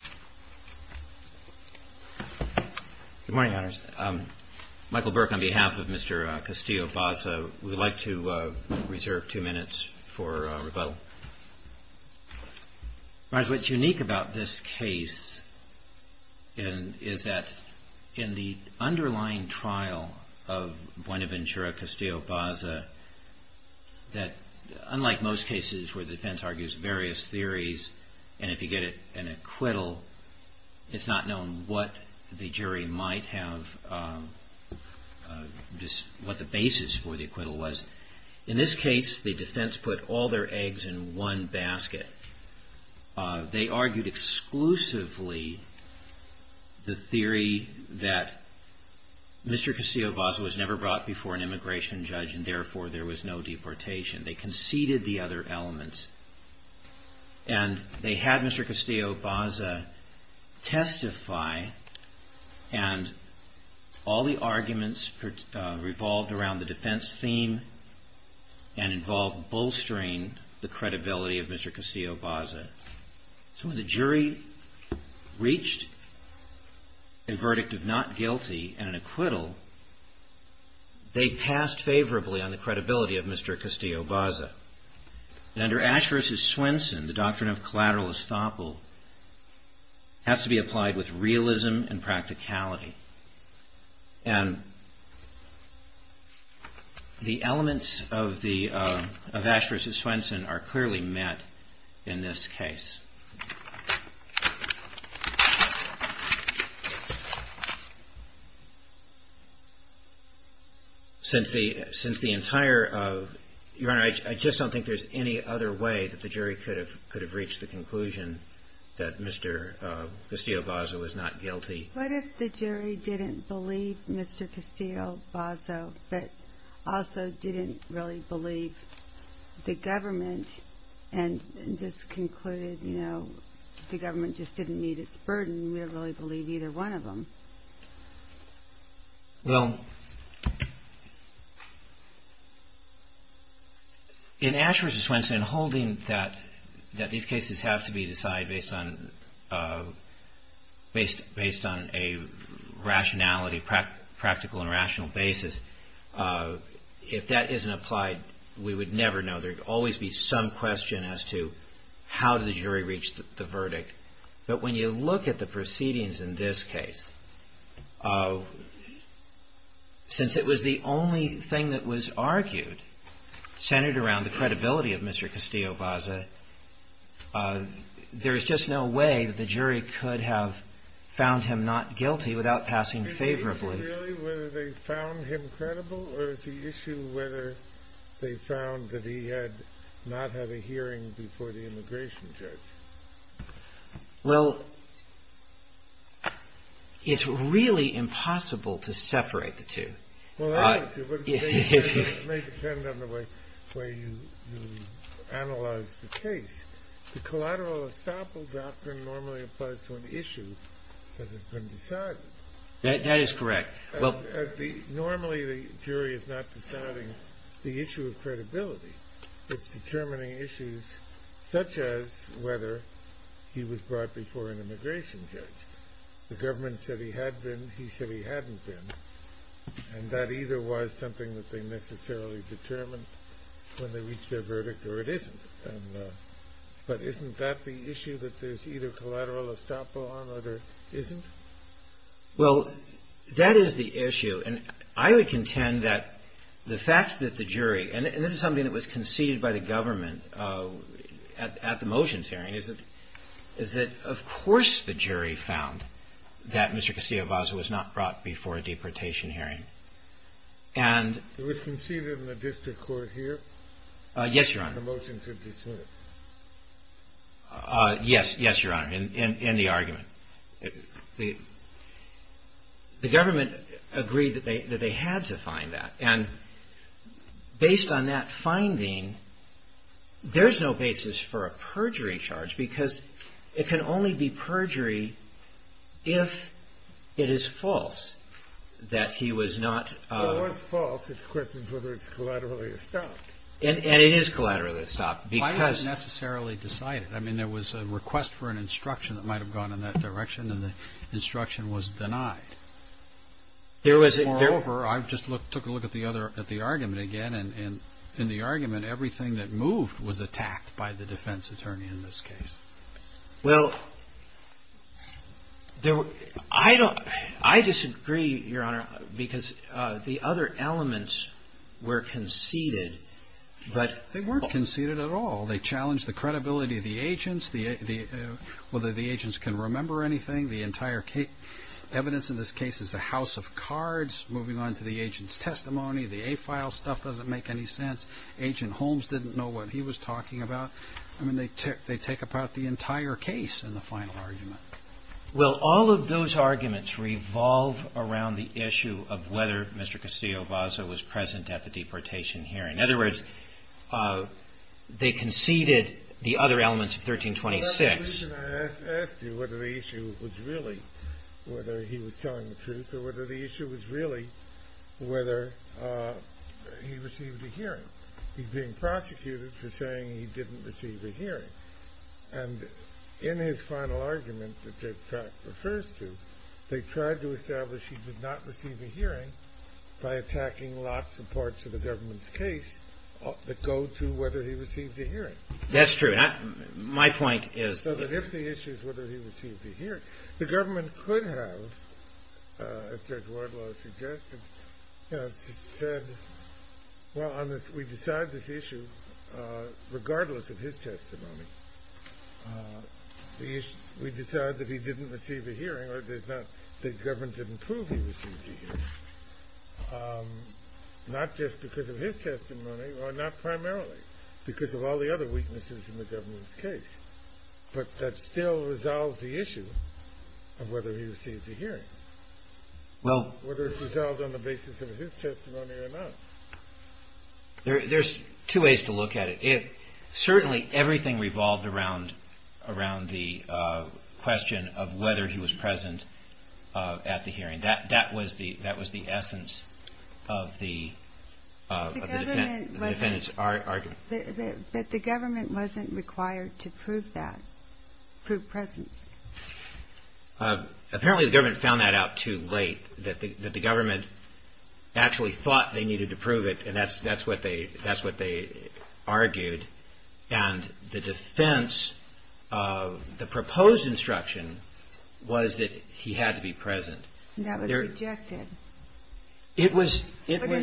What is unique about this case is that in the underlying trial of Buenaventura-Castillo-Basa, unlike most cases where the defense argues various theories and if you get an acquittal it's not known what the basis for the acquittal was. In this case the defense put all their eggs in one basket. They argued exclusively the theory that Mr. Castillo-Basa was never brought before an immigration judge and therefore there was no deportation. They conceded the testify and all the arguments revolved around the defense theme and involved bolstering the credibility of Mr. Castillo-Basa. So when the jury reached a verdict of not guilty and an acquittal, they passed favorably on the credibility of Mr. Castillo-Basa. And under Ash v. Swenson, the doctrine of collateral estoppel has to be applied with realism and practicality. And the elements of Ash v. Swenson are clearly met in this case. Your Honor, I just don't think there's any other way that the jury could have reached the conclusion that Mr. Castillo-Basa was not guilty. What if the jury didn't believe Mr. Castillo-Basa, but also didn't really believe the government and just concluded, you know, the government just didn't meet its burden. We don't really believe either one of them. Well, in Ash v. Swenson, holding that these cases have to be decided based on a rationality and a practical and rational basis, if that isn't applied, we would never know. There would always be some question as to how did the jury reach the verdict. But when you look at the proceedings in this case, since it was the only thing that was argued centered around the credibility of Mr. Castillo-Basa, there is just no way that the jury could have found him not guilty without passing favorably. Is the issue really whether they found him credible, or is the issue whether they found that he had not had a hearing before the immigration judge? Well, it's really impossible to separate the two. Well, that may depend on the way you analyze the case. The collateral estoppel doctrine normally applies to an issue that has been decided. That is correct. Normally, the jury is not deciding the issue of credibility. It's determining issues such as whether he was brought before an immigration judge. The government said he had been. He said he hadn't been. And that either was something that they necessarily determined when they Well, that is the issue. And I would contend that the fact that the jury, and this is something that was conceded by the government at the motions hearing, is that of course the jury found that Mr. Castillo-Basa was not brought before a deportation hearing. It was conceded in the district court here? Yes, Your Honor. At the motions of these hearings? Yes, Your Honor, in the argument. The government agreed that they had to find that. And based on that finding, there's no basis for a perjury charge, because it can only be perjury if it is false that he was not If it was false, it's a question of whether it's collateral estoppel. And it is collateral estoppel. Why not necessarily decide it? I mean, there was a request for an instruction that might have gone in that direction, and the instruction was denied. Moreover, I just took a look at the argument again, and in the argument, everything that moved was attacked by the defense attorney in this case. Well, I disagree, Your Honor, because the other elements were conceded, but They weren't conceded at all. They challenged the credibility of the agents, whether the agents can remember anything. The entire evidence in this case is a house of cards. Moving on to the agent's testimony, the A-file stuff doesn't make any sense. Agent Holmes didn't know what he was talking about. I mean, they take about the entire case in the final argument. Well, all of those arguments revolve around the issue of whether Mr. Castillo-Vaza was present at the deportation hearing. In other words, they conceded the other elements of 1326 That's the reason I asked you whether the issue was really whether he was telling the truth or whether the issue was really whether he received a hearing. He's being prosecuted for saying he didn't receive a hearing. And in his final argument, which Dave Pratt refers to, they tried to establish he did not receive a hearing by attacking lots of parts of the government's case that go to whether he received a hearing. That's true. My point is that if the issue is whether he received a hearing, the government could have, as Judge Wardlaw suggested, said, well, we decide this issue regardless of his testimony. We decide that he didn't receive a hearing or that the government didn't prove he received a hearing, not just because of his testimony or not primarily because of all the other weaknesses in the government's case, but that still resolves the issue of whether he received a hearing. Whether it's resolved on the basis of his testimony or not. There's two ways to look at it. Certainly, everything revolved around the question of whether he was present at the hearing. That was the essence of the defendant's argument. But the government wasn't required to prove that, prove presence. Apparently, the government found that out too late, that the government actually thought they needed to prove it, and that's what they argued. And the defense of the proposed instruction was that he had to be present. That was rejected. It was... wasn't really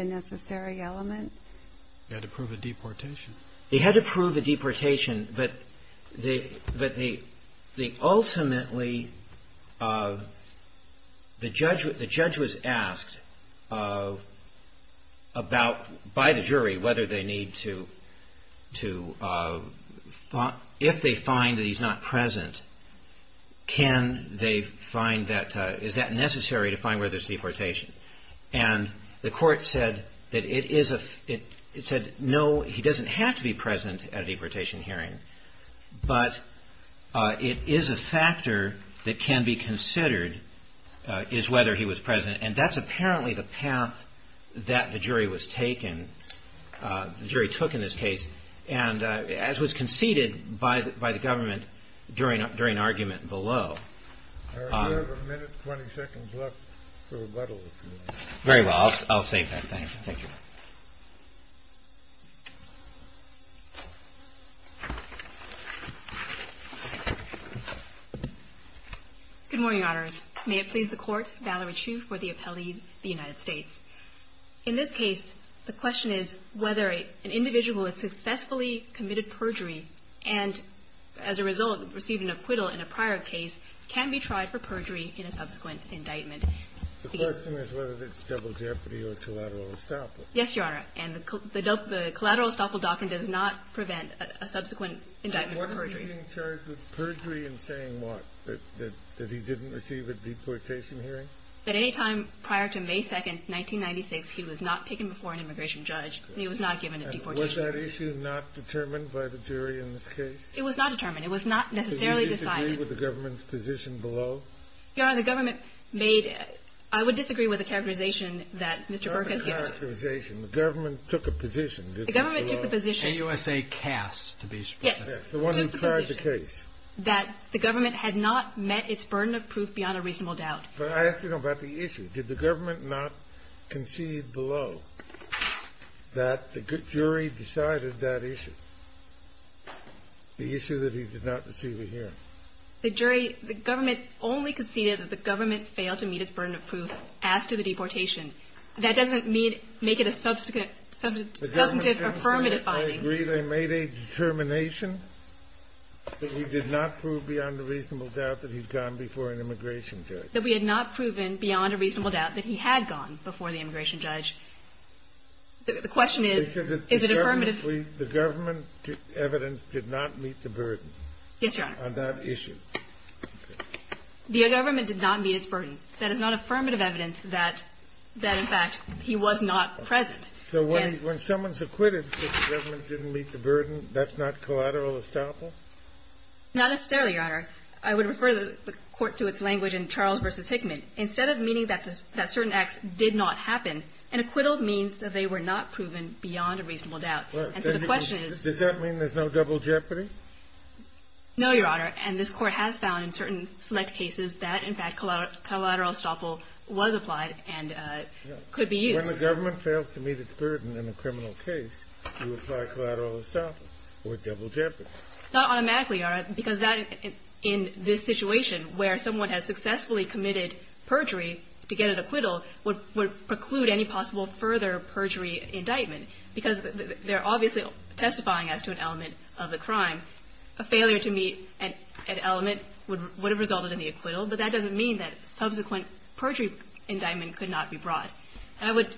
a necessary element. He had to prove a deportation. He had to prove a deportation, but ultimately, the judge was asked by the jury whether they need to... if they find that he's not present, can they find that... is that necessary to find whether there's deportation? And the court said that it is a... it said, no, he doesn't have to be present at a deportation hearing, but it is a factor that can be considered, is whether he was present. And that's apparently the path that the jury was taken... the jury took in this case, and as was conceded by the government during argument below. All right. We have a minute, 20 seconds left for rebuttal, if you want. Very well. I'll save that. Thank you. Good morning, honors. May it please the court, Valerie Chu for the appellee, the United States. In this case, the question is whether an individual has successfully committed perjury and, as a result, received an acquittal in a prior case, can be tried for perjury in a subsequent indictment. The question is whether it's double jeopardy or collateral estoppel. Yes, Your Honor. And the collateral estoppel doctrine does not prevent a subsequent indictment for perjury. And what is he being charged with perjury in saying what? That he didn't receive a deportation hearing? That any time prior to May 2nd, 1996, he was not taken before an immigration judge and he was not given a deportation hearing. And was that issue not determined by the jury in this case? It was not determined. It was not necessarily decided. Did you disagree with the government's position below? Your Honor, the government made it. I would disagree with the characterization that Mr. Burke has given. The government took a position. The government took a position. A U.S.A. cast to be specific. Yes. The one who tried the case. That the government had not met its burden of proof beyond a reasonable doubt. But I ask you about the issue. Did the government not concede below that the jury decided that issue, the issue that he did not receive a hearing? The jury – the government only conceded that the government failed to meet its burden of proof as to the deportation. That doesn't make it a substantive affirmative finding. The government conceded that they made a determination that we did not prove beyond a reasonable doubt that he'd gone before an immigration judge. That we had not proven beyond a reasonable doubt that he had gone before the immigration judge. The question is, is it affirmative? The government evidence did not meet the burden. Yes, Your Honor. On that issue. The government did not meet its burden. That is not affirmative evidence that, in fact, he was not present. So when someone's acquitted that the government didn't meet the burden, that's not collateral estoppel? Not necessarily, Your Honor. I would refer the Court to its language in Charles v. Hickman. Instead of meaning that certain acts did not happen, an acquittal means that they were not proven beyond a reasonable doubt. And so the question is. Does that mean there's no double jeopardy? No, Your Honor. And this Court has found in certain select cases that, in fact, collateral estoppel was applied and could be used. When the government fails to meet its burden in a criminal case, you apply collateral estoppel or double jeopardy. Not automatically, Your Honor, because that in this situation where someone has successfully committed perjury to get an acquittal would preclude any possible further perjury indictment, because they're obviously testifying as to an element of the crime. A failure to meet an element would have resulted in the acquittal, but that doesn't mean that subsequent perjury indictment could not be brought. And I would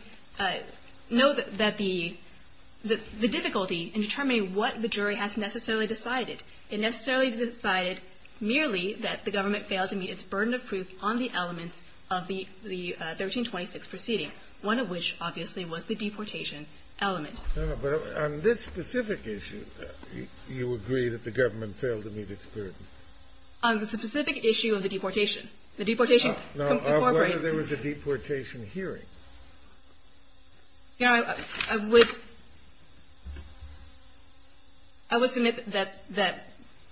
note that the difficulty in determining what the jury has necessarily decided, it necessarily decided merely that the government failed to meet its burden of proof on the elements of the 1326 proceeding, one of which, obviously, was the deportation element. No, but on this specific issue, you agree that the government failed to meet its burden. On the specific issue of the deportation. The deportation incorporates. No. I wonder if there was a deportation hearing. Your Honor, I would submit that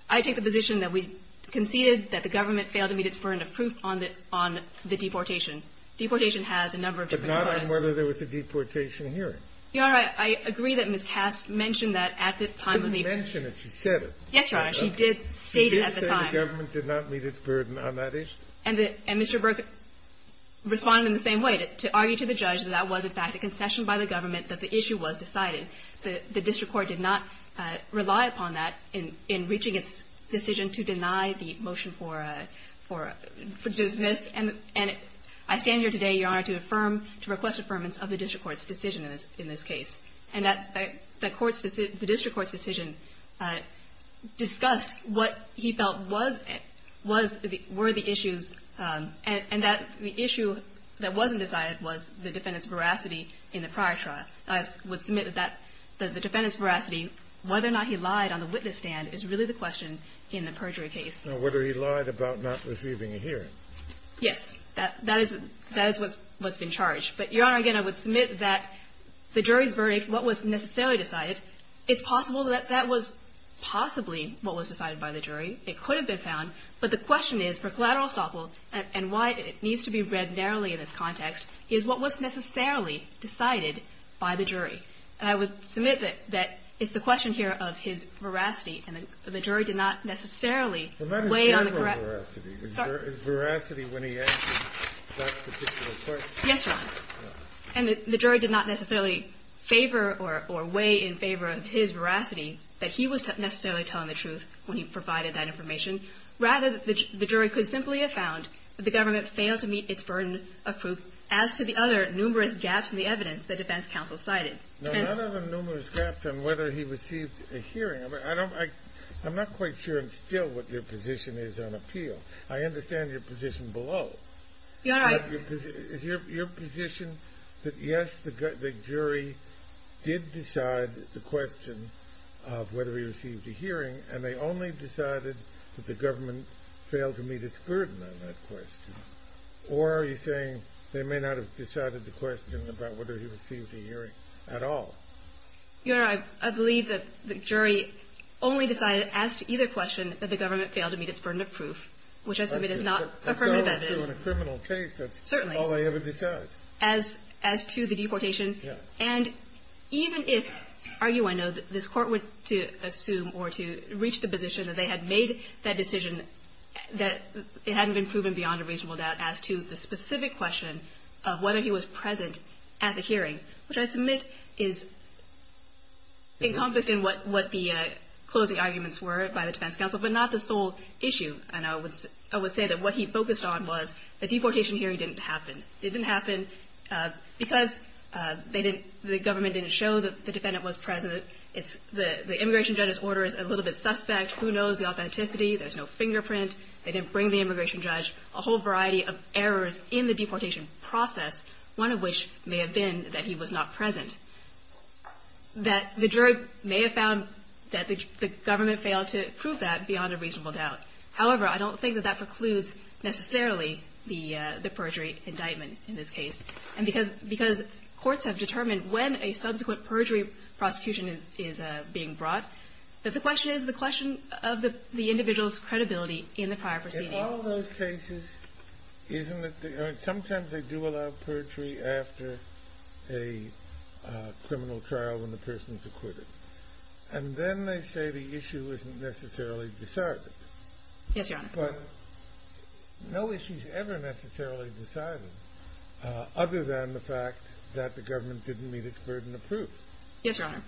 I take the position that we conceded that the government failed to meet its burden of proof on the deportation. Deportation has a number of different parts. But not on whether there was a deportation hearing. Your Honor, I agree that Ms. Kass mentioned that at the time of the. She didn't mention it. She said it. Yes, Your Honor. She did state it at the time. She did say the government did not meet its burden on that issue. And Mr. Burke responded in the same way, to argue to the judge that that was, in fact, a concession by the government that the issue was decided. The district court did not rely upon that in reaching its decision to deny the motion for dismiss. And I stand here today, Your Honor, to affirm, to request affirmance of the district court's decision in this case. And the district court's decision discussed what he felt were the issues. And the issue that wasn't decided was the defendant's veracity in the prior trial. I would submit that the defendant's veracity, whether or not he lied on the witness stand, is really the question in the perjury case. Now, whether he lied about not receiving a hearing. Yes. That is what's been charged. But, Your Honor, again, I would submit that the jury's verdict, what was necessarily decided, it's possible that that was possibly what was decided by the jury. It could have been found. But the question is, for collateral estoppel, and why it needs to be read narrowly in this context, is what was necessarily decided by the jury. And I would submit that it's the question here of his veracity, and the jury did not necessarily weigh on the correct – Well, not his verbal veracity. Sorry? His veracity when he asked that particular question. Yes, Your Honor. And the jury did not necessarily favor or weigh in favor of his veracity that he was necessarily telling the truth when he provided that information. Rather, the jury could simply have found that the government failed to meet its burden of proof, as to the other numerous gaps in the evidence that defense counsel cited. Now, none of the numerous gaps on whether he received a hearing. I'm not quite sure and still what your position is on appeal. I understand your position below. Your Honor, I – Is your position that, yes, the jury did decide the question of whether he received a hearing, and they only decided that the government failed to meet its burden on that question? Or are you saying they may not have decided the question about whether he received a hearing at all? Your Honor, I believe that the jury only decided, as to either question, that the government failed to meet its burden of proof, which I submit is not affirmative evidence. As though, in a criminal case, that's all they ever decided. Certainly. As to the deportation. Yes. And even if – argue, I know, that this Court were to assume or to reach the position that they had made that decision that it hadn't been proven beyond a reasonable doubt as to the specific question of whether he was present at the hearing, which I submit is encompassed in what the closing arguments were by the defense counsel, but not the sole issue. And I would say that what he focused on was the deportation hearing didn't happen. It didn't happen because they didn't – the government didn't show that the defendant was present. It's – the immigration judge's order is a little bit suspect. Who knows the authenticity? There's no fingerprint. They didn't bring the immigration judge. A whole variety of errors in the deportation process, one of which may have been that he was not present, that the jury may have found that the government failed to prove that beyond a reasonable doubt. However, I don't think that that precludes necessarily the perjury indictment in this case. And because – because courts have determined when a subsequent perjury prosecution is being brought, that the question is the question of the individual's credibility in the prior proceeding. All of those cases, isn't it – sometimes they do allow perjury after a criminal trial when the person's acquitted. And then they say the issue isn't necessarily decided. Yes, Your Honor. But no issue's ever necessarily decided other than the fact that the government didn't meet its burden of proof. Yes, Your Honor.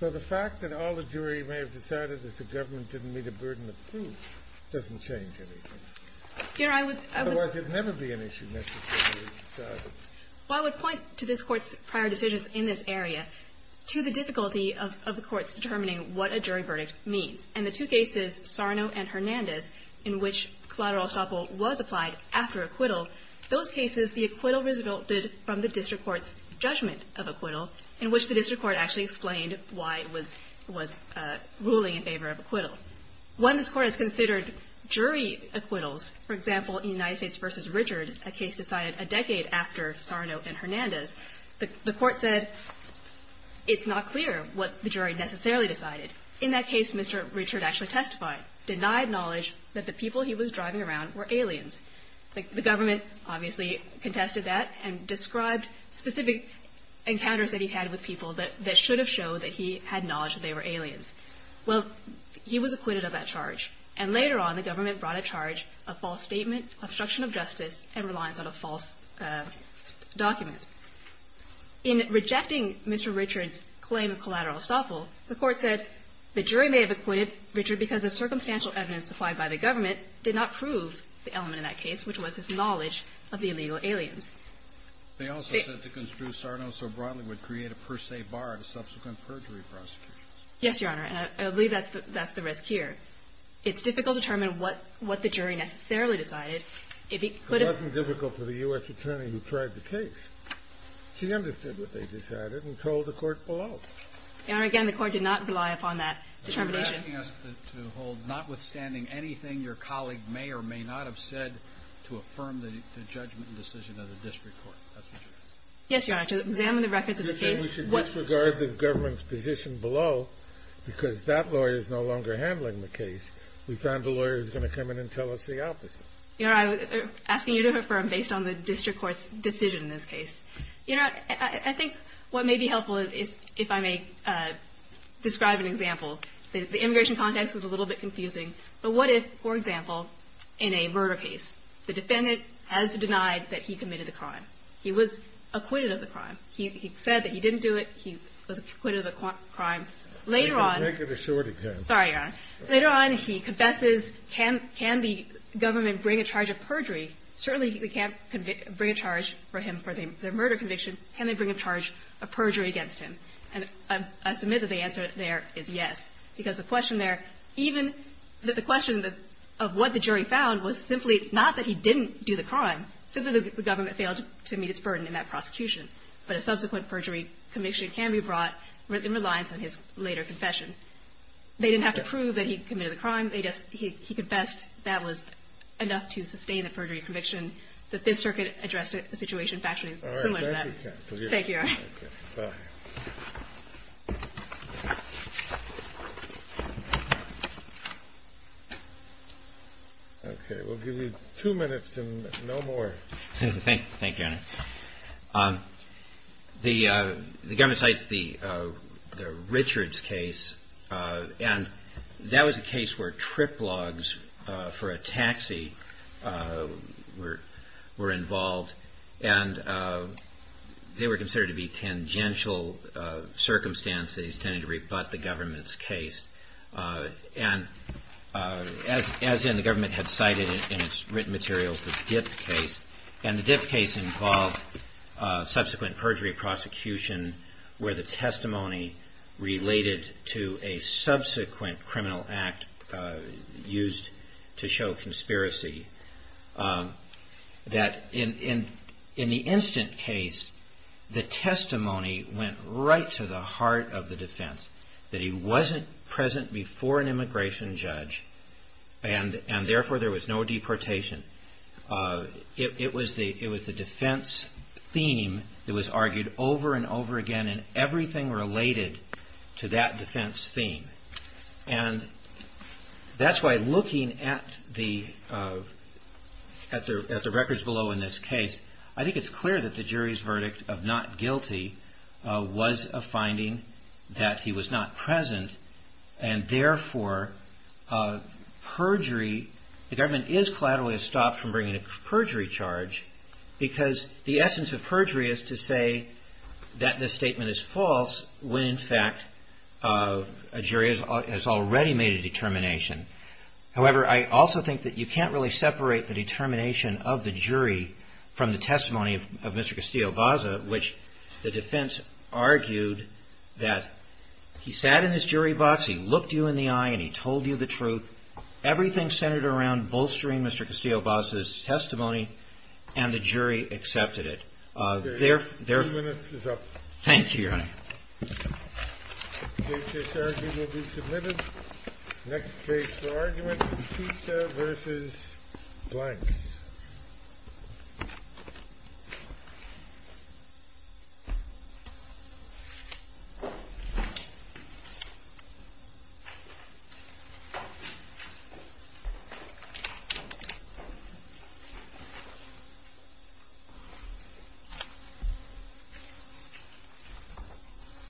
So the fact that all the jury may have decided that the government didn't meet a burden of proof doesn't change anything. Your Honor, I would – Otherwise, it would never be an issue necessarily decided. Well, I would point to this Court's prior decisions in this area, to the difficulty of the courts determining what a jury verdict means. In the two cases, Sarno and Hernandez, in which collateral estoppel was applied after acquittal, those cases, the acquittal resulted from the district court's judgment of acquittal, in which the district court actually explained why it was – was ruling in favor of acquittal. When this Court has considered jury acquittals, for example, in United States v. Richard, a case decided a decade after Sarno and Hernandez, the – the Court said it's not clear what the jury necessarily decided. In that case, Mr. Richard actually testified, denied knowledge that the people he was driving around were aliens. Like, the government obviously contested that and described specific encounters that he had with people that – that should have showed that he had knowledge that they were aliens. Well, he was acquitted of that charge. And later on, the government brought a charge of false statement, obstruction of justice, and reliance on a false document. In rejecting Mr. Richard's claim of collateral estoppel, the Court said the jury may have acquitted Richard because the circumstantial evidence supplied by the government did not prove the element in that case, which was his knowledge of the illegal aliens. They also said to construe Sarno so broadly would create a per se bar to subsequent perjury prosecution. Yes, Your Honor. I believe that's the – that's the risk here. It's difficult to determine what – what the jury necessarily decided. If he could have – It wasn't difficult for the U.S. attorney who tried the case. She understood what they decided and told the Court below. Your Honor, again, the Court did not rely upon that determination. You're asking us to hold notwithstanding anything your colleague may or may not have said to affirm the judgment and decision of the district court. That's what you're asking. Yes, Your Honor. To examine the records of the case – We should disregard the government's position below because that lawyer is no longer handling the case. We found a lawyer who's going to come in and tell us the opposite. Your Honor, I'm asking you to affirm based on the district court's decision in this case. Your Honor, I think what may be helpful is if I may describe an example. The immigration context is a little bit confusing. But what if, for example, in a murder case, the defendant has denied that he committed the crime. He was acquitted of the crime. He said that he didn't do it. He was acquitted of the crime. Later on – Make it a short example. Sorry, Your Honor. Later on, he confesses. Can the government bring a charge of perjury? Certainly, they can't bring a charge for him for their murder conviction. Can they bring a charge of perjury against him? And I submit that the answer there is yes, because the question there, even the question of what the jury found was simply not that he didn't do the crime. Simply the government failed to meet its burden in that prosecution. But a subsequent perjury conviction can be brought in reliance on his later confession. They didn't have to prove that he committed the crime. They just – he confessed that was enough to sustain the perjury conviction, that this circuit addressed the situation factually similar to that. All right. Thank you, counsel. Thank you, Your Honor. Okay. Okay. We'll give you two minutes and no more. Thank you, Your Honor. The government cites the Richards case. And that was a case where trip logs for a taxi were involved. And they were considered to be tangential circumstances, tending to rebut the government's case. And as in, the government had cited in its written materials the Dipp case. And the Dipp case involved subsequent perjury prosecution where the testimony related to a subsequent criminal act used to show conspiracy. That in the instant case, the testimony went right to the heart of the defense, that he wasn't present before an immigration judge, and therefore there was no deportation. It was the defense theme that was argued over and over again in everything related to that defense theme. And that's why looking at the records below in this case, I think it's clear that the jury's verdict of not guilty was a finding that he was not present. And therefore, the government is collaterally stopped from bringing a perjury charge because the essence of perjury is to say that this statement is false when in fact a jury has already made a determination. However, I also think that you can't really separate the determination of the jury from the testimony of Mr. Castillo-Baza, which the defense argued that he sat in his jury box, he looked you in the eye, and he told you the truth. Everything centered around bolstering Mr. Castillo-Baza's testimony, and the jury accepted it. Thank you, Your Honor. This argument will be submitted. Next case for argument is Pisa v. Blanks.